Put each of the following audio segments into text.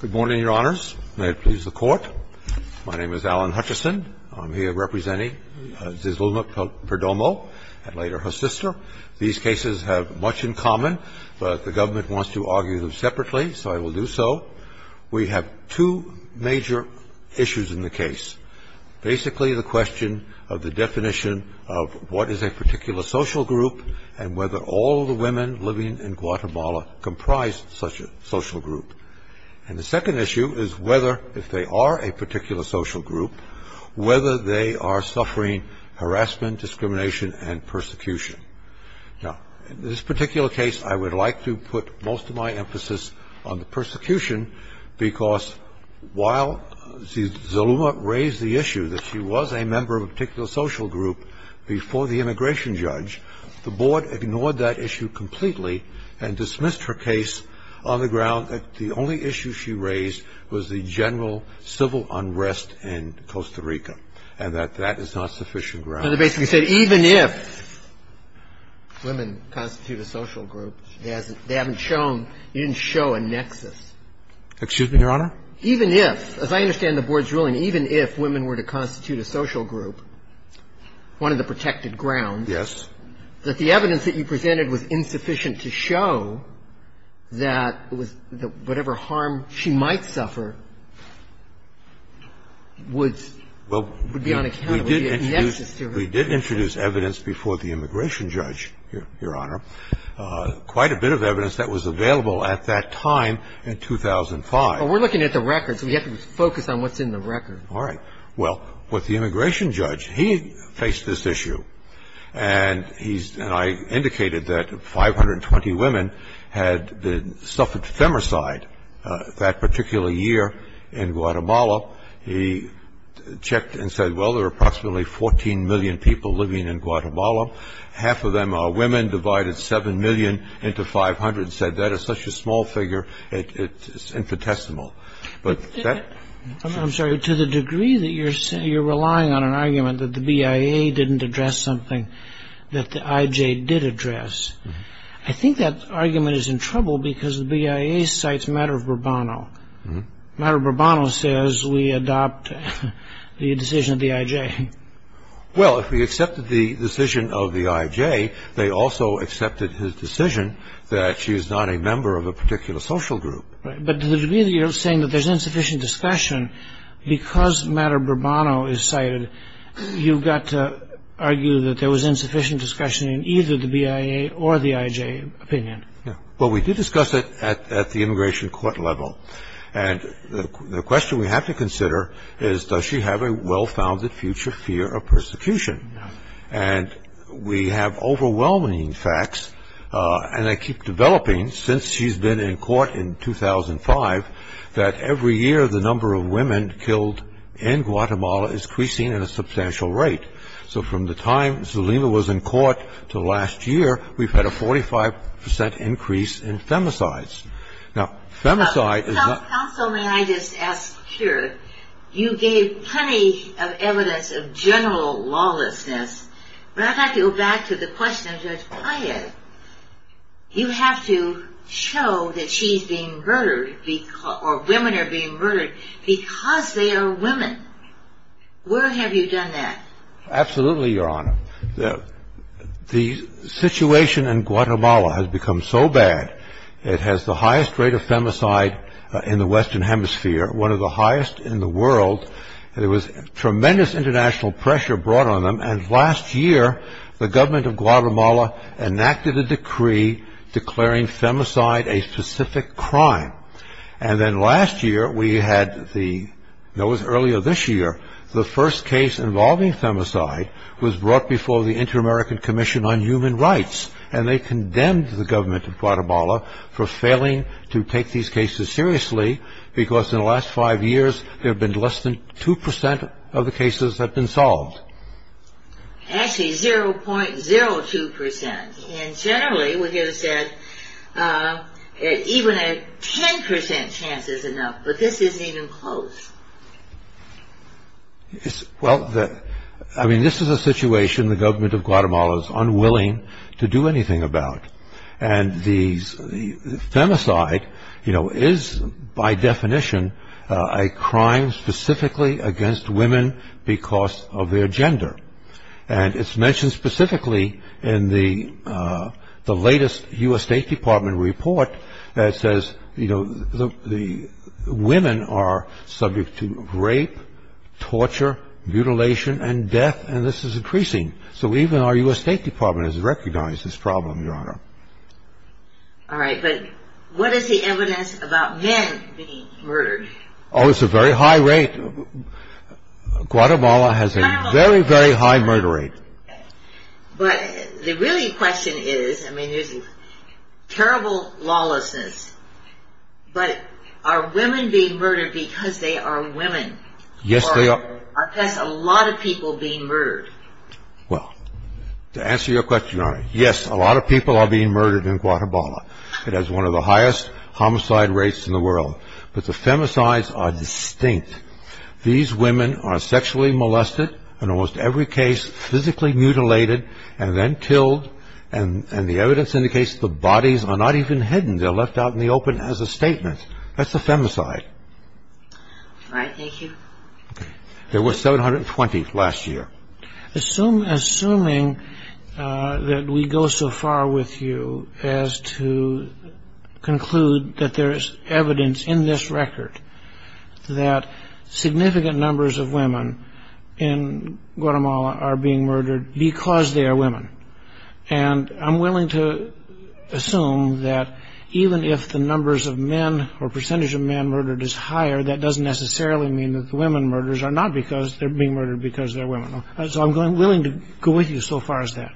Good morning, Your Honors. May it please the Court. My name is Alan Hutchison. I'm here representing Zezluma Perdomo and later her sister. These cases have much in common, but the government wants to argue them separately, so I will do so. We have two major issues in the case. Basically, the question of the definition of what is a particular social group and whether all the women living in Guatemala comprise such a social group. And the second issue is whether, if they are a particular social group, whether they are suffering harassment, discrimination, and persecution. Now, in this particular case, I would like to put most of my emphasis on the persecution because while Zezluma raised the issue that she was a member of a particular social group before the immigration judge, the Board ignored that issue completely and dismissed her case on the ground that the only issue she raised was the general civil unrest in Costa Rica and that that is not sufficient ground. So they basically said even if women constitute a social group, they haven't shown you didn't show a nexus. Excuse me, Your Honor? Even if, as I understand the Board's ruling, even if women were to constitute a social group, one of the protected grounds. Yes. That the evidence that you presented was insufficient to show that whatever harm she might suffer would be unaccountable. We did introduce evidence before the immigration judge, Your Honor, quite a bit of evidence that was available at that time in 2005. But we're looking at the records. We have to focus on what's in the records. All right. Well, with the immigration judge, he faced this issue. And I indicated that 520 women had suffered femicide that particular year in Guatemala. He checked and said, well, there are approximately 14 million people living in Guatemala. Half of them are women. Divided 7 million into 500. Said that is such a small figure, it's infinitesimal. I'm sorry. To the degree that you're relying on an argument that the BIA didn't address something that the IJ did address, I think that argument is in trouble because the BIA cites Maduro Bourbono. Maduro Bourbono says we adopt the decision of the IJ. Well, if he accepted the decision of the IJ, they also accepted his decision that she is not a member of a particular social group. Right. But to the degree that you're saying that there's insufficient discussion because Maduro Bourbono is cited, you've got to argue that there was insufficient discussion in either the BIA or the IJ opinion. Yeah. Well, we did discuss it at the immigration court level. And the question we have to consider is does she have a well-founded future fear of persecution? And we have overwhelming facts, and they keep developing since she's been in court in 2005, that every year the number of women killed in Guatemala is increasing at a substantial rate. So from the time Zelena was in court to last year, we've had a 45 percent increase in femicides. Now, femicide is not- Counsel, may I just ask here, you gave plenty of evidence of general lawlessness, but I'd like to go back to the question of the IJ. You have to show that she's being murdered or women are being murdered because they are women. Where have you done that? Absolutely, Your Honor. The situation in Guatemala has become so bad, it has the highest rate of femicide in the Western Hemisphere, one of the highest in the world. There was tremendous international pressure brought on them, and last year the government of Guatemala enacted a decree declaring femicide a specific crime. And then last year we had the- no, it was earlier this year, the first case involving femicide was brought before the Inter-American Commission on Human Rights, and they condemned the government of Guatemala for failing to take these cases seriously because in the last five years there have been less than 2 percent of the cases that have been solved. Actually, 0.02 percent. And generally, even a 10 percent chance is enough, but this isn't even close. Well, this is a situation the government of Guatemala is unwilling to do anything about, and femicide is by definition a crime specifically against women because of their gender. And it's mentioned specifically in the latest U.S. State Department report that says, you know, women are subject to rape, torture, mutilation, and death, and this is increasing. So even our U.S. State Department has recognized this problem, Your Honor. All right, but what is the evidence about men being murdered? Oh, it's a very high rate. Guatemala has a very, very high murder rate. But the really question is, I mean, there's terrible lawlessness, but are women being murdered because they are women? Yes, they are. Or are a lot of people being murdered? Well, to answer your question, Your Honor, yes, a lot of people are being murdered in Guatemala. It has one of the highest homicide rates in the world. But the femicides are distinct. These women are sexually molested in almost every case, physically mutilated, and then killed, and the evidence indicates the bodies are not even hidden. They're left out in the open as a statement. That's a femicide. All right, thank you. There were 720 last year. Assuming that we go so far with you as to conclude that there is evidence in this record that significant numbers of women in Guatemala are being murdered because they are women, and I'm willing to assume that even if the numbers of men or percentage of men murdered is higher, that doesn't necessarily mean that the women murdered are not because they're being murdered because they're women. So I'm willing to go with you so far as that.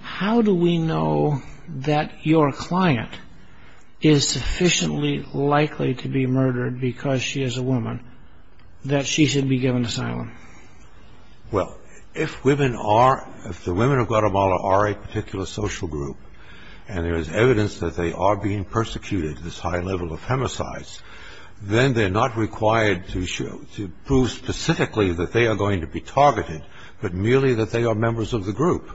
How do we know that your client is sufficiently likely to be murdered because she is a woman that she should be given asylum? Well, if the women of Guatemala are a particular social group and there is evidence that they are being persecuted, this high level of femicides, then they're not required to prove specifically that they are going to be targeted, but merely that they are members of the group,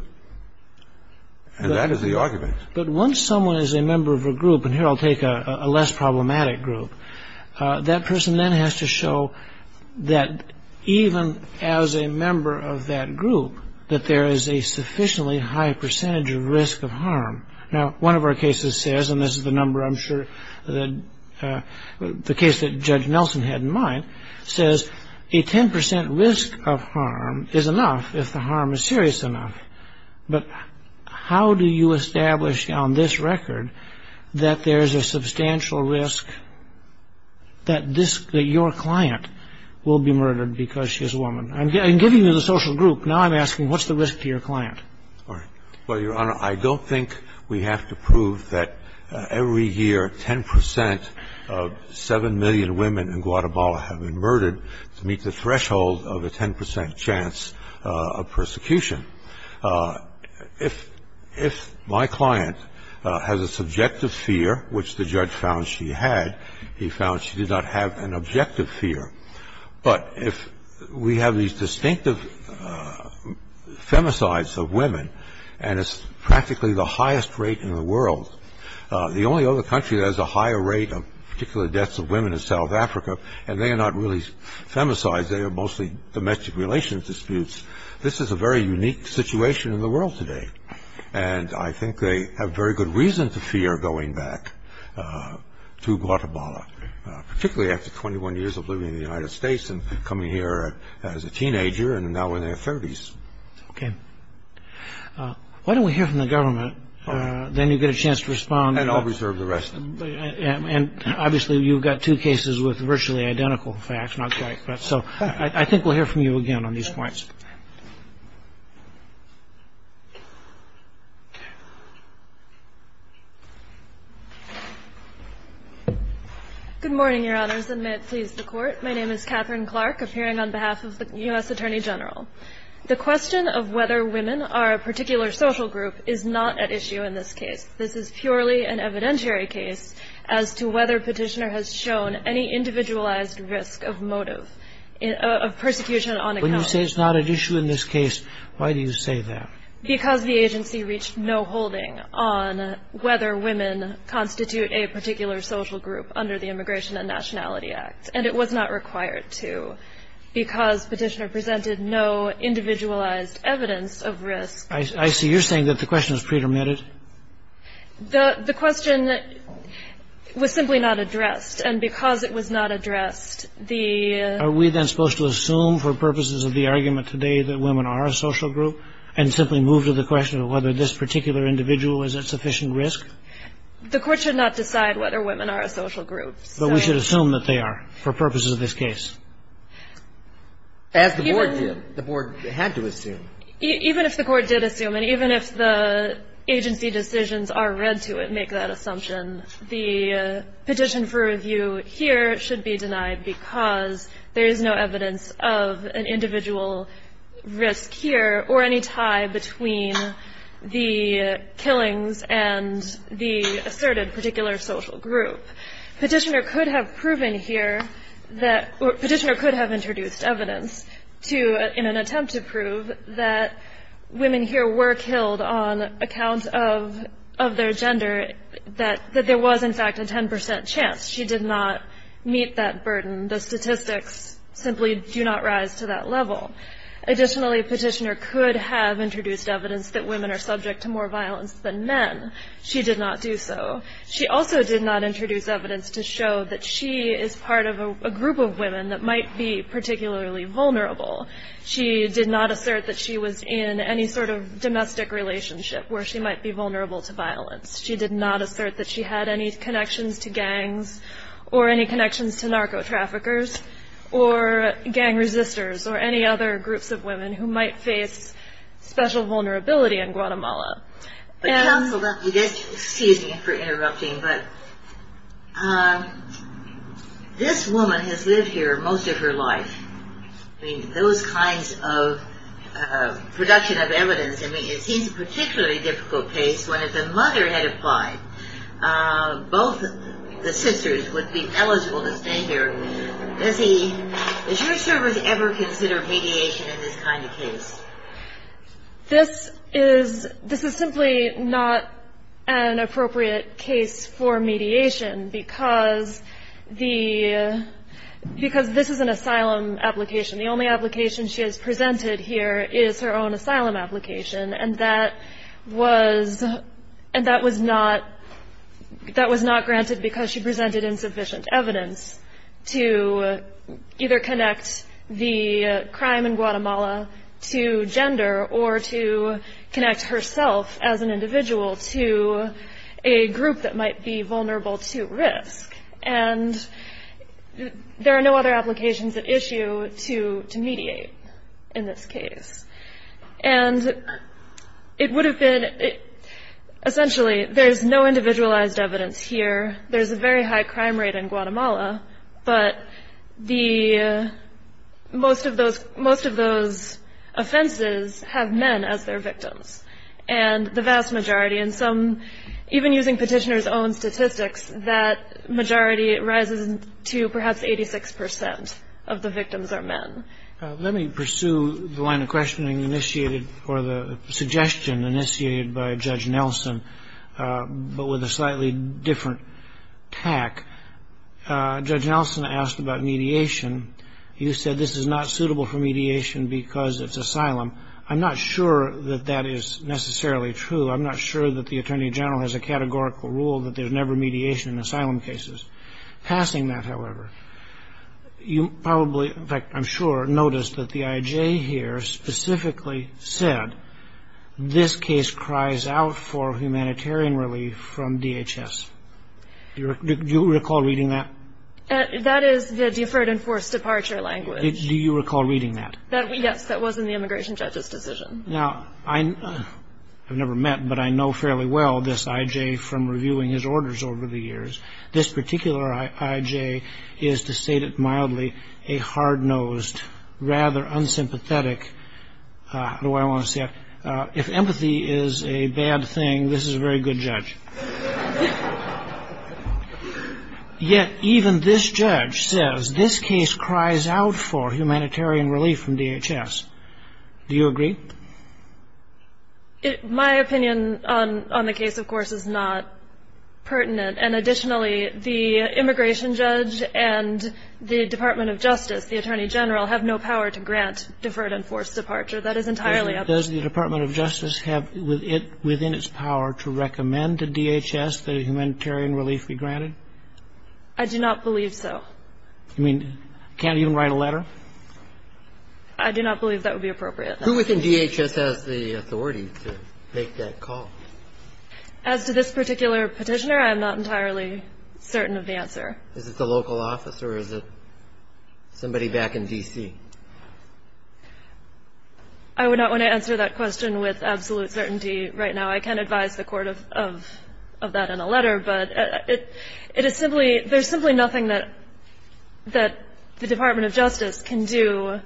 and that is the argument. But once someone is a member of a group, and here I'll take a less problematic group, that person then has to show that even as a member of that group, that there is a sufficiently high percentage of risk of harm. Now, one of our cases says, and this is the case that Judge Nelson had in mind, says a 10% risk of harm is enough if the harm is serious enough, but how do you establish on this record that there is a substantial risk that your client will be murdered because she is a woman? I'm giving you the social group. Now I'm asking what's the risk to your client? Well, Your Honor, I don't think we have to prove that every year 10% of 7 million women in Guatemala have been murdered to meet the threshold of a 10% chance of persecution. If my client has a subjective fear, which the judge found she had, he found she did not have an objective fear. But if we have these distinctive femicides of women, and it's practically the highest rate in the world, the only other country that has a higher rate of particular deaths of women is South Africa, and they are not really femicides. They are mostly domestic relations disputes. This is a very unique situation in the world today, and I think they have very good reason to fear going back to Guatemala, particularly after 21 years of living in the United States and coming here as a teenager and now in their 30s. Okay. Why don't we hear from the government? Then you get a chance to respond. And I'll reserve the rest. And obviously you've got two cases with virtually identical facts, not quite. So I think we'll hear from you again on these points. Good morning, Your Honors, and may it please the Court. My name is Catherine Clark, appearing on behalf of the U.S. Attorney General. The question of whether women are a particular social group is not at issue in this case. This is purely an evidentiary case as to whether Petitioner has shown any individualized risk of motive, of persecution on account. When you say it's not at issue in this case, why do you say that? Because the agency reached no holding on whether women constitute a particular social group under the Immigration and Nationality Act, and it was not required to because Petitioner presented no individualized evidence of risk. I see. You're saying that the question is pretermitted. The question was simply not addressed. And because it was not addressed, the ---- Are we then supposed to assume for purposes of the argument today that women are a social group and simply move to the question of whether this particular individual is at sufficient risk? The Court should not decide whether women are a social group. But we should assume that they are for purposes of this case. As the Board did. The Board had to assume. Even if the Court did assume, and even if the agency decisions are read to make that assumption, the petition for review here should be denied because there is no evidence of an individual risk here or any tie between the killings and the asserted particular social group. Petitioner could have proven here that ---- Petitioner could have introduced evidence to, in an attempt to prove, that women here were killed on account of their gender, that there was, in fact, a 10 percent chance. She did not meet that burden. The statistics simply do not rise to that level. Additionally, Petitioner could have introduced evidence that women are subject to more violence than men. She did not do so. She also did not introduce evidence to show that she is part of a group of women that might be particularly vulnerable. She did not assert that she was in any sort of domestic relationship where she might be vulnerable to violence. She did not assert that she had any connections to gangs or any connections to narco-traffickers or gang resistors or any other groups of women who might face special vulnerability in Guatemala. Excuse me for interrupting, but this woman has lived here most of her life. I mean, those kinds of production of evidence, I mean, it seems a particularly difficult case when if the mother had applied, both the sisters would be eligible to stay here. Does he, does your service ever consider mediation in this kind of case? This is, this is simply not an appropriate case for mediation because the, because this is an asylum application. The only application she has presented here is her own asylum application, and that was, and that was not, that was not granted because she presented insufficient evidence to either connect the crime in Guatemala to gender or to connect herself as an individual to a group that might be vulnerable to risk. And there are no other applications at issue to mediate in this case. And it would have been, essentially, there's no individualized evidence here. There's a very high crime rate in Guatemala, but the, most of those, most of those offenses have men as their victims. And the vast majority, and some, even using petitioner's own statistics, that majority rises to perhaps 86 percent of the victims are men. Let me pursue the line of questioning initiated, or the suggestion initiated by Judge Nelson, but with a slightly different tack. Judge Nelson asked about mediation. You said this is not suitable for mediation because it's asylum. I'm not sure that that is necessarily true. I'm not sure that the Attorney General has a categorical rule that there's never mediation in asylum cases. Passing that, however, you probably, in fact, I'm sure, noticed that the I.J. here specifically said, this case cries out for humanitarian relief from DHS. Do you recall reading that? That is the deferred and forced departure language. Do you recall reading that? Yes, that was in the immigration judge's decision. Now, I've never met, but I know fairly well this I.J. from reviewing his orders over the years. This particular I.J. is, to state it mildly, a hard-nosed, rather unsympathetic. I don't know why I want to say that. If empathy is a bad thing, this is a very good judge. Yet even this judge says this case cries out for humanitarian relief from DHS. Do you agree? My opinion on the case, of course, is not pertinent. And additionally, the immigration judge and the Department of Justice, the Attorney General, have no power to grant deferred and forced departure. That is entirely up to them. Does the Department of Justice have within its power to recommend to DHS that a humanitarian relief be granted? I do not believe so. You mean can't even write a letter? I do not believe that would be appropriate. Who within DHS has the authority to make that call? As to this particular petitioner, I am not entirely certain of the answer. Is it the local office or is it somebody back in D.C.? I would not want to answer that question with absolute certainty right now. I can advise the Court of that in a letter. But it is simply ñ there's simply nothing that the Department of Justice can do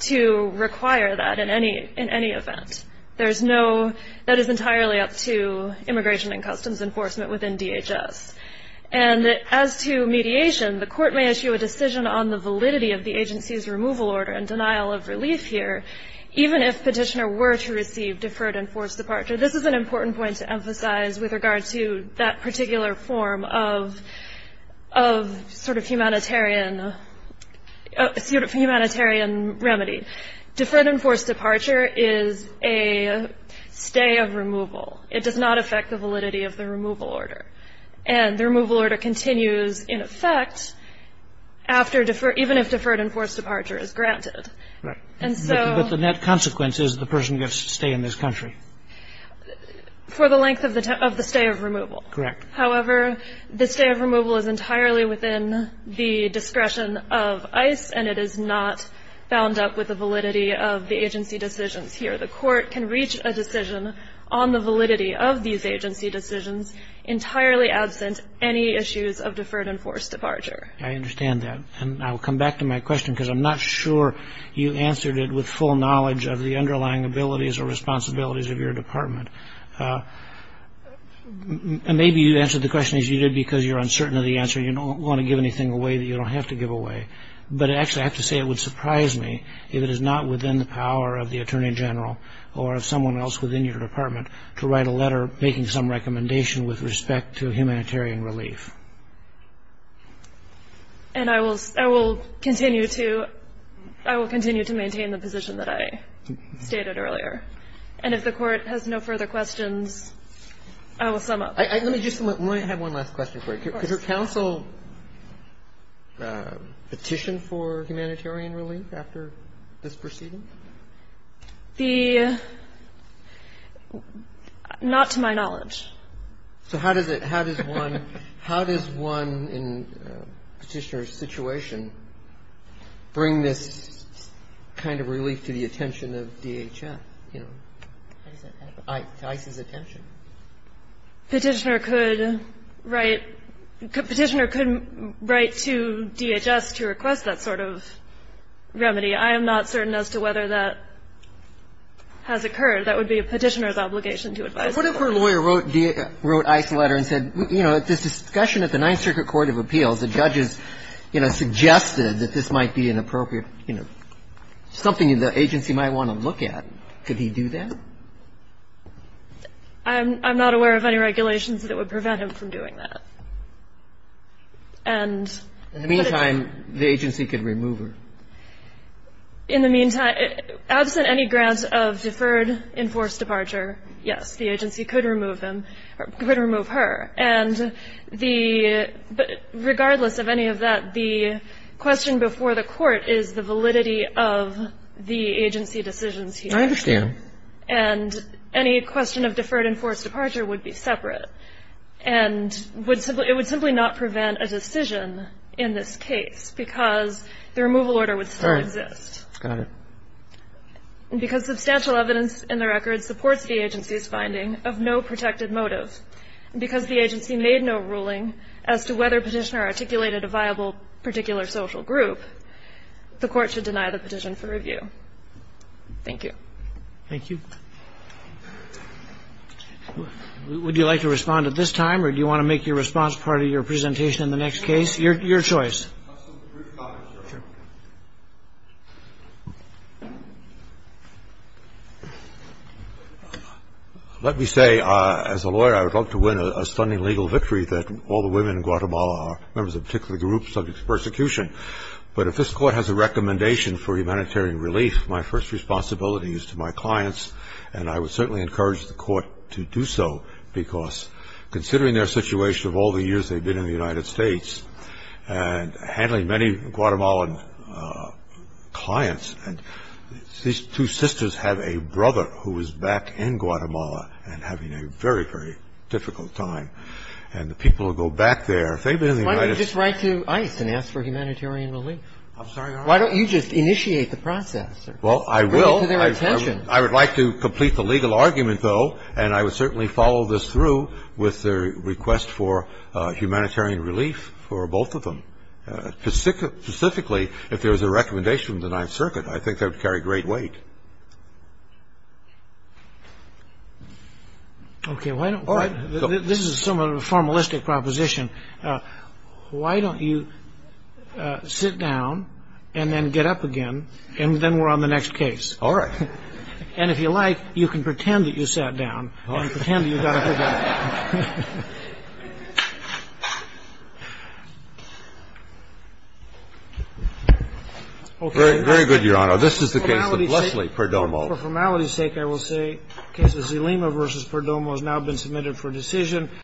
to require that in any event. There's no ñ that is entirely up to Immigration and Customs Enforcement within DHS. And as to mediation, the Court may issue a decision on the validity of the agency's removal order and denial of relief here, even if petitioner were to receive deferred and forced departure. This is an important point to emphasize with regard to that particular form of sort of humanitarian remedy. Deferred and forced departure is a stay of removal. It does not affect the validity of the removal order. And the removal order continues in effect after ñ even if deferred and forced departure is granted. And so ñ But the net consequence is the person gets to stay in this country. For the length of the stay of removal. Correct. However, the stay of removal is entirely within the discretion of ICE and it is not bound up with the validity of the agency decisions here. The Court can reach a decision on the validity of these agency decisions entirely absent any issues of deferred and forced departure. I understand that. And I will come back to my question because I'm not sure you answered it with full knowledge of the underlying abilities or responsibilities of your department. Maybe you answered the question as you did because you're uncertain of the answer. You don't want to give anything away that you don't have to give away. But actually, I have to say it would surprise me if it is not within the power of the Attorney General or of someone else within your department to write a letter making some recommendation with respect to humanitarian relief. And I will ñ I will continue to ñ I will continue to maintain the position that I stated earlier. And if the Court has no further questions, I will sum up. Let me just ñ let me have one last question for you. Of course. Did your counsel petition for humanitarian relief after this proceeding? The ñ not to my knowledge. So how does it ñ how does one ñ how does one in Petitioner's situation bring this kind of relief to the attention of DHS, you know, to ICE's attention? Petitioner could write ñ Petitioner could write to DHS to request that sort of remedy. I am not certain as to whether that has occurred. That would be a Petitioner's obligation to advise. What if her lawyer wrote ICE a letter and said, you know, at this discussion at the Ninth Circuit Court of Appeals, the judges, you know, suggested that this might be an appropriate, you know, something the agency might want to look at. Could he do that? I'm ñ I'm not aware of any regulations that would prevent him from doing that. And ñ In the meantime, the agency could remove her. In the meantime, absent any grant of deferred enforced departure, yes, the agency could remove him ñ could remove her. And the ñ but regardless of any of that, the question before the Court is the validity of the agency decisions here. And any question of deferred enforced departure would be separate and would simply ñ it would simply not prevent a decision in this case because the removal order would still exist. All right. Got it. Because substantial evidence in the record supports the agency's finding of no protected motive, because the agency made no ruling as to whether Petitioner articulated a viable particular social group, the Court should deny the petition for review. Thank you. Would you like to respond at this time, or do you want to make your response part of your presentation in the next case? Your ñ your choice. Let me say, as a lawyer, I would love to win a stunning legal victory that all the women in Guatemala are members of particular groups subject to persecution. But if this Court has a recommendation for humanitarian relief, my first responsibility is to my clients, and I would certainly encourage the Court to do so, because considering their situation of all the years they've been in the United States and handling many Guatemalan clients, these two sisters have a brother who is back in Guatemala and having a very, very difficult time. And the people who go back there, if they've been in the United States ñ Why don't you just write to ICE and ask for humanitarian relief? I'm sorry, Your Honor? Why don't you just initiate the process? Well, I will. To their attention. I would like to complete the legal argument, though, and I would certainly follow this through with their request for humanitarian relief for both of them. Specifically, if there was a recommendation from the Ninth Circuit, I think that would carry great weight. Okay. Why don't ñ this is somewhat of a formalistic proposition. Why don't you sit down and then get up again, and then we're on the next case? All right. And if you like, you can pretend that you sat down and pretend that you got up again. Okay. Very good, Your Honor. This is the case of Leslie Perdomo. For formality's sake, I will say the case of Zelima v. Perdomo has now been submitted for decision.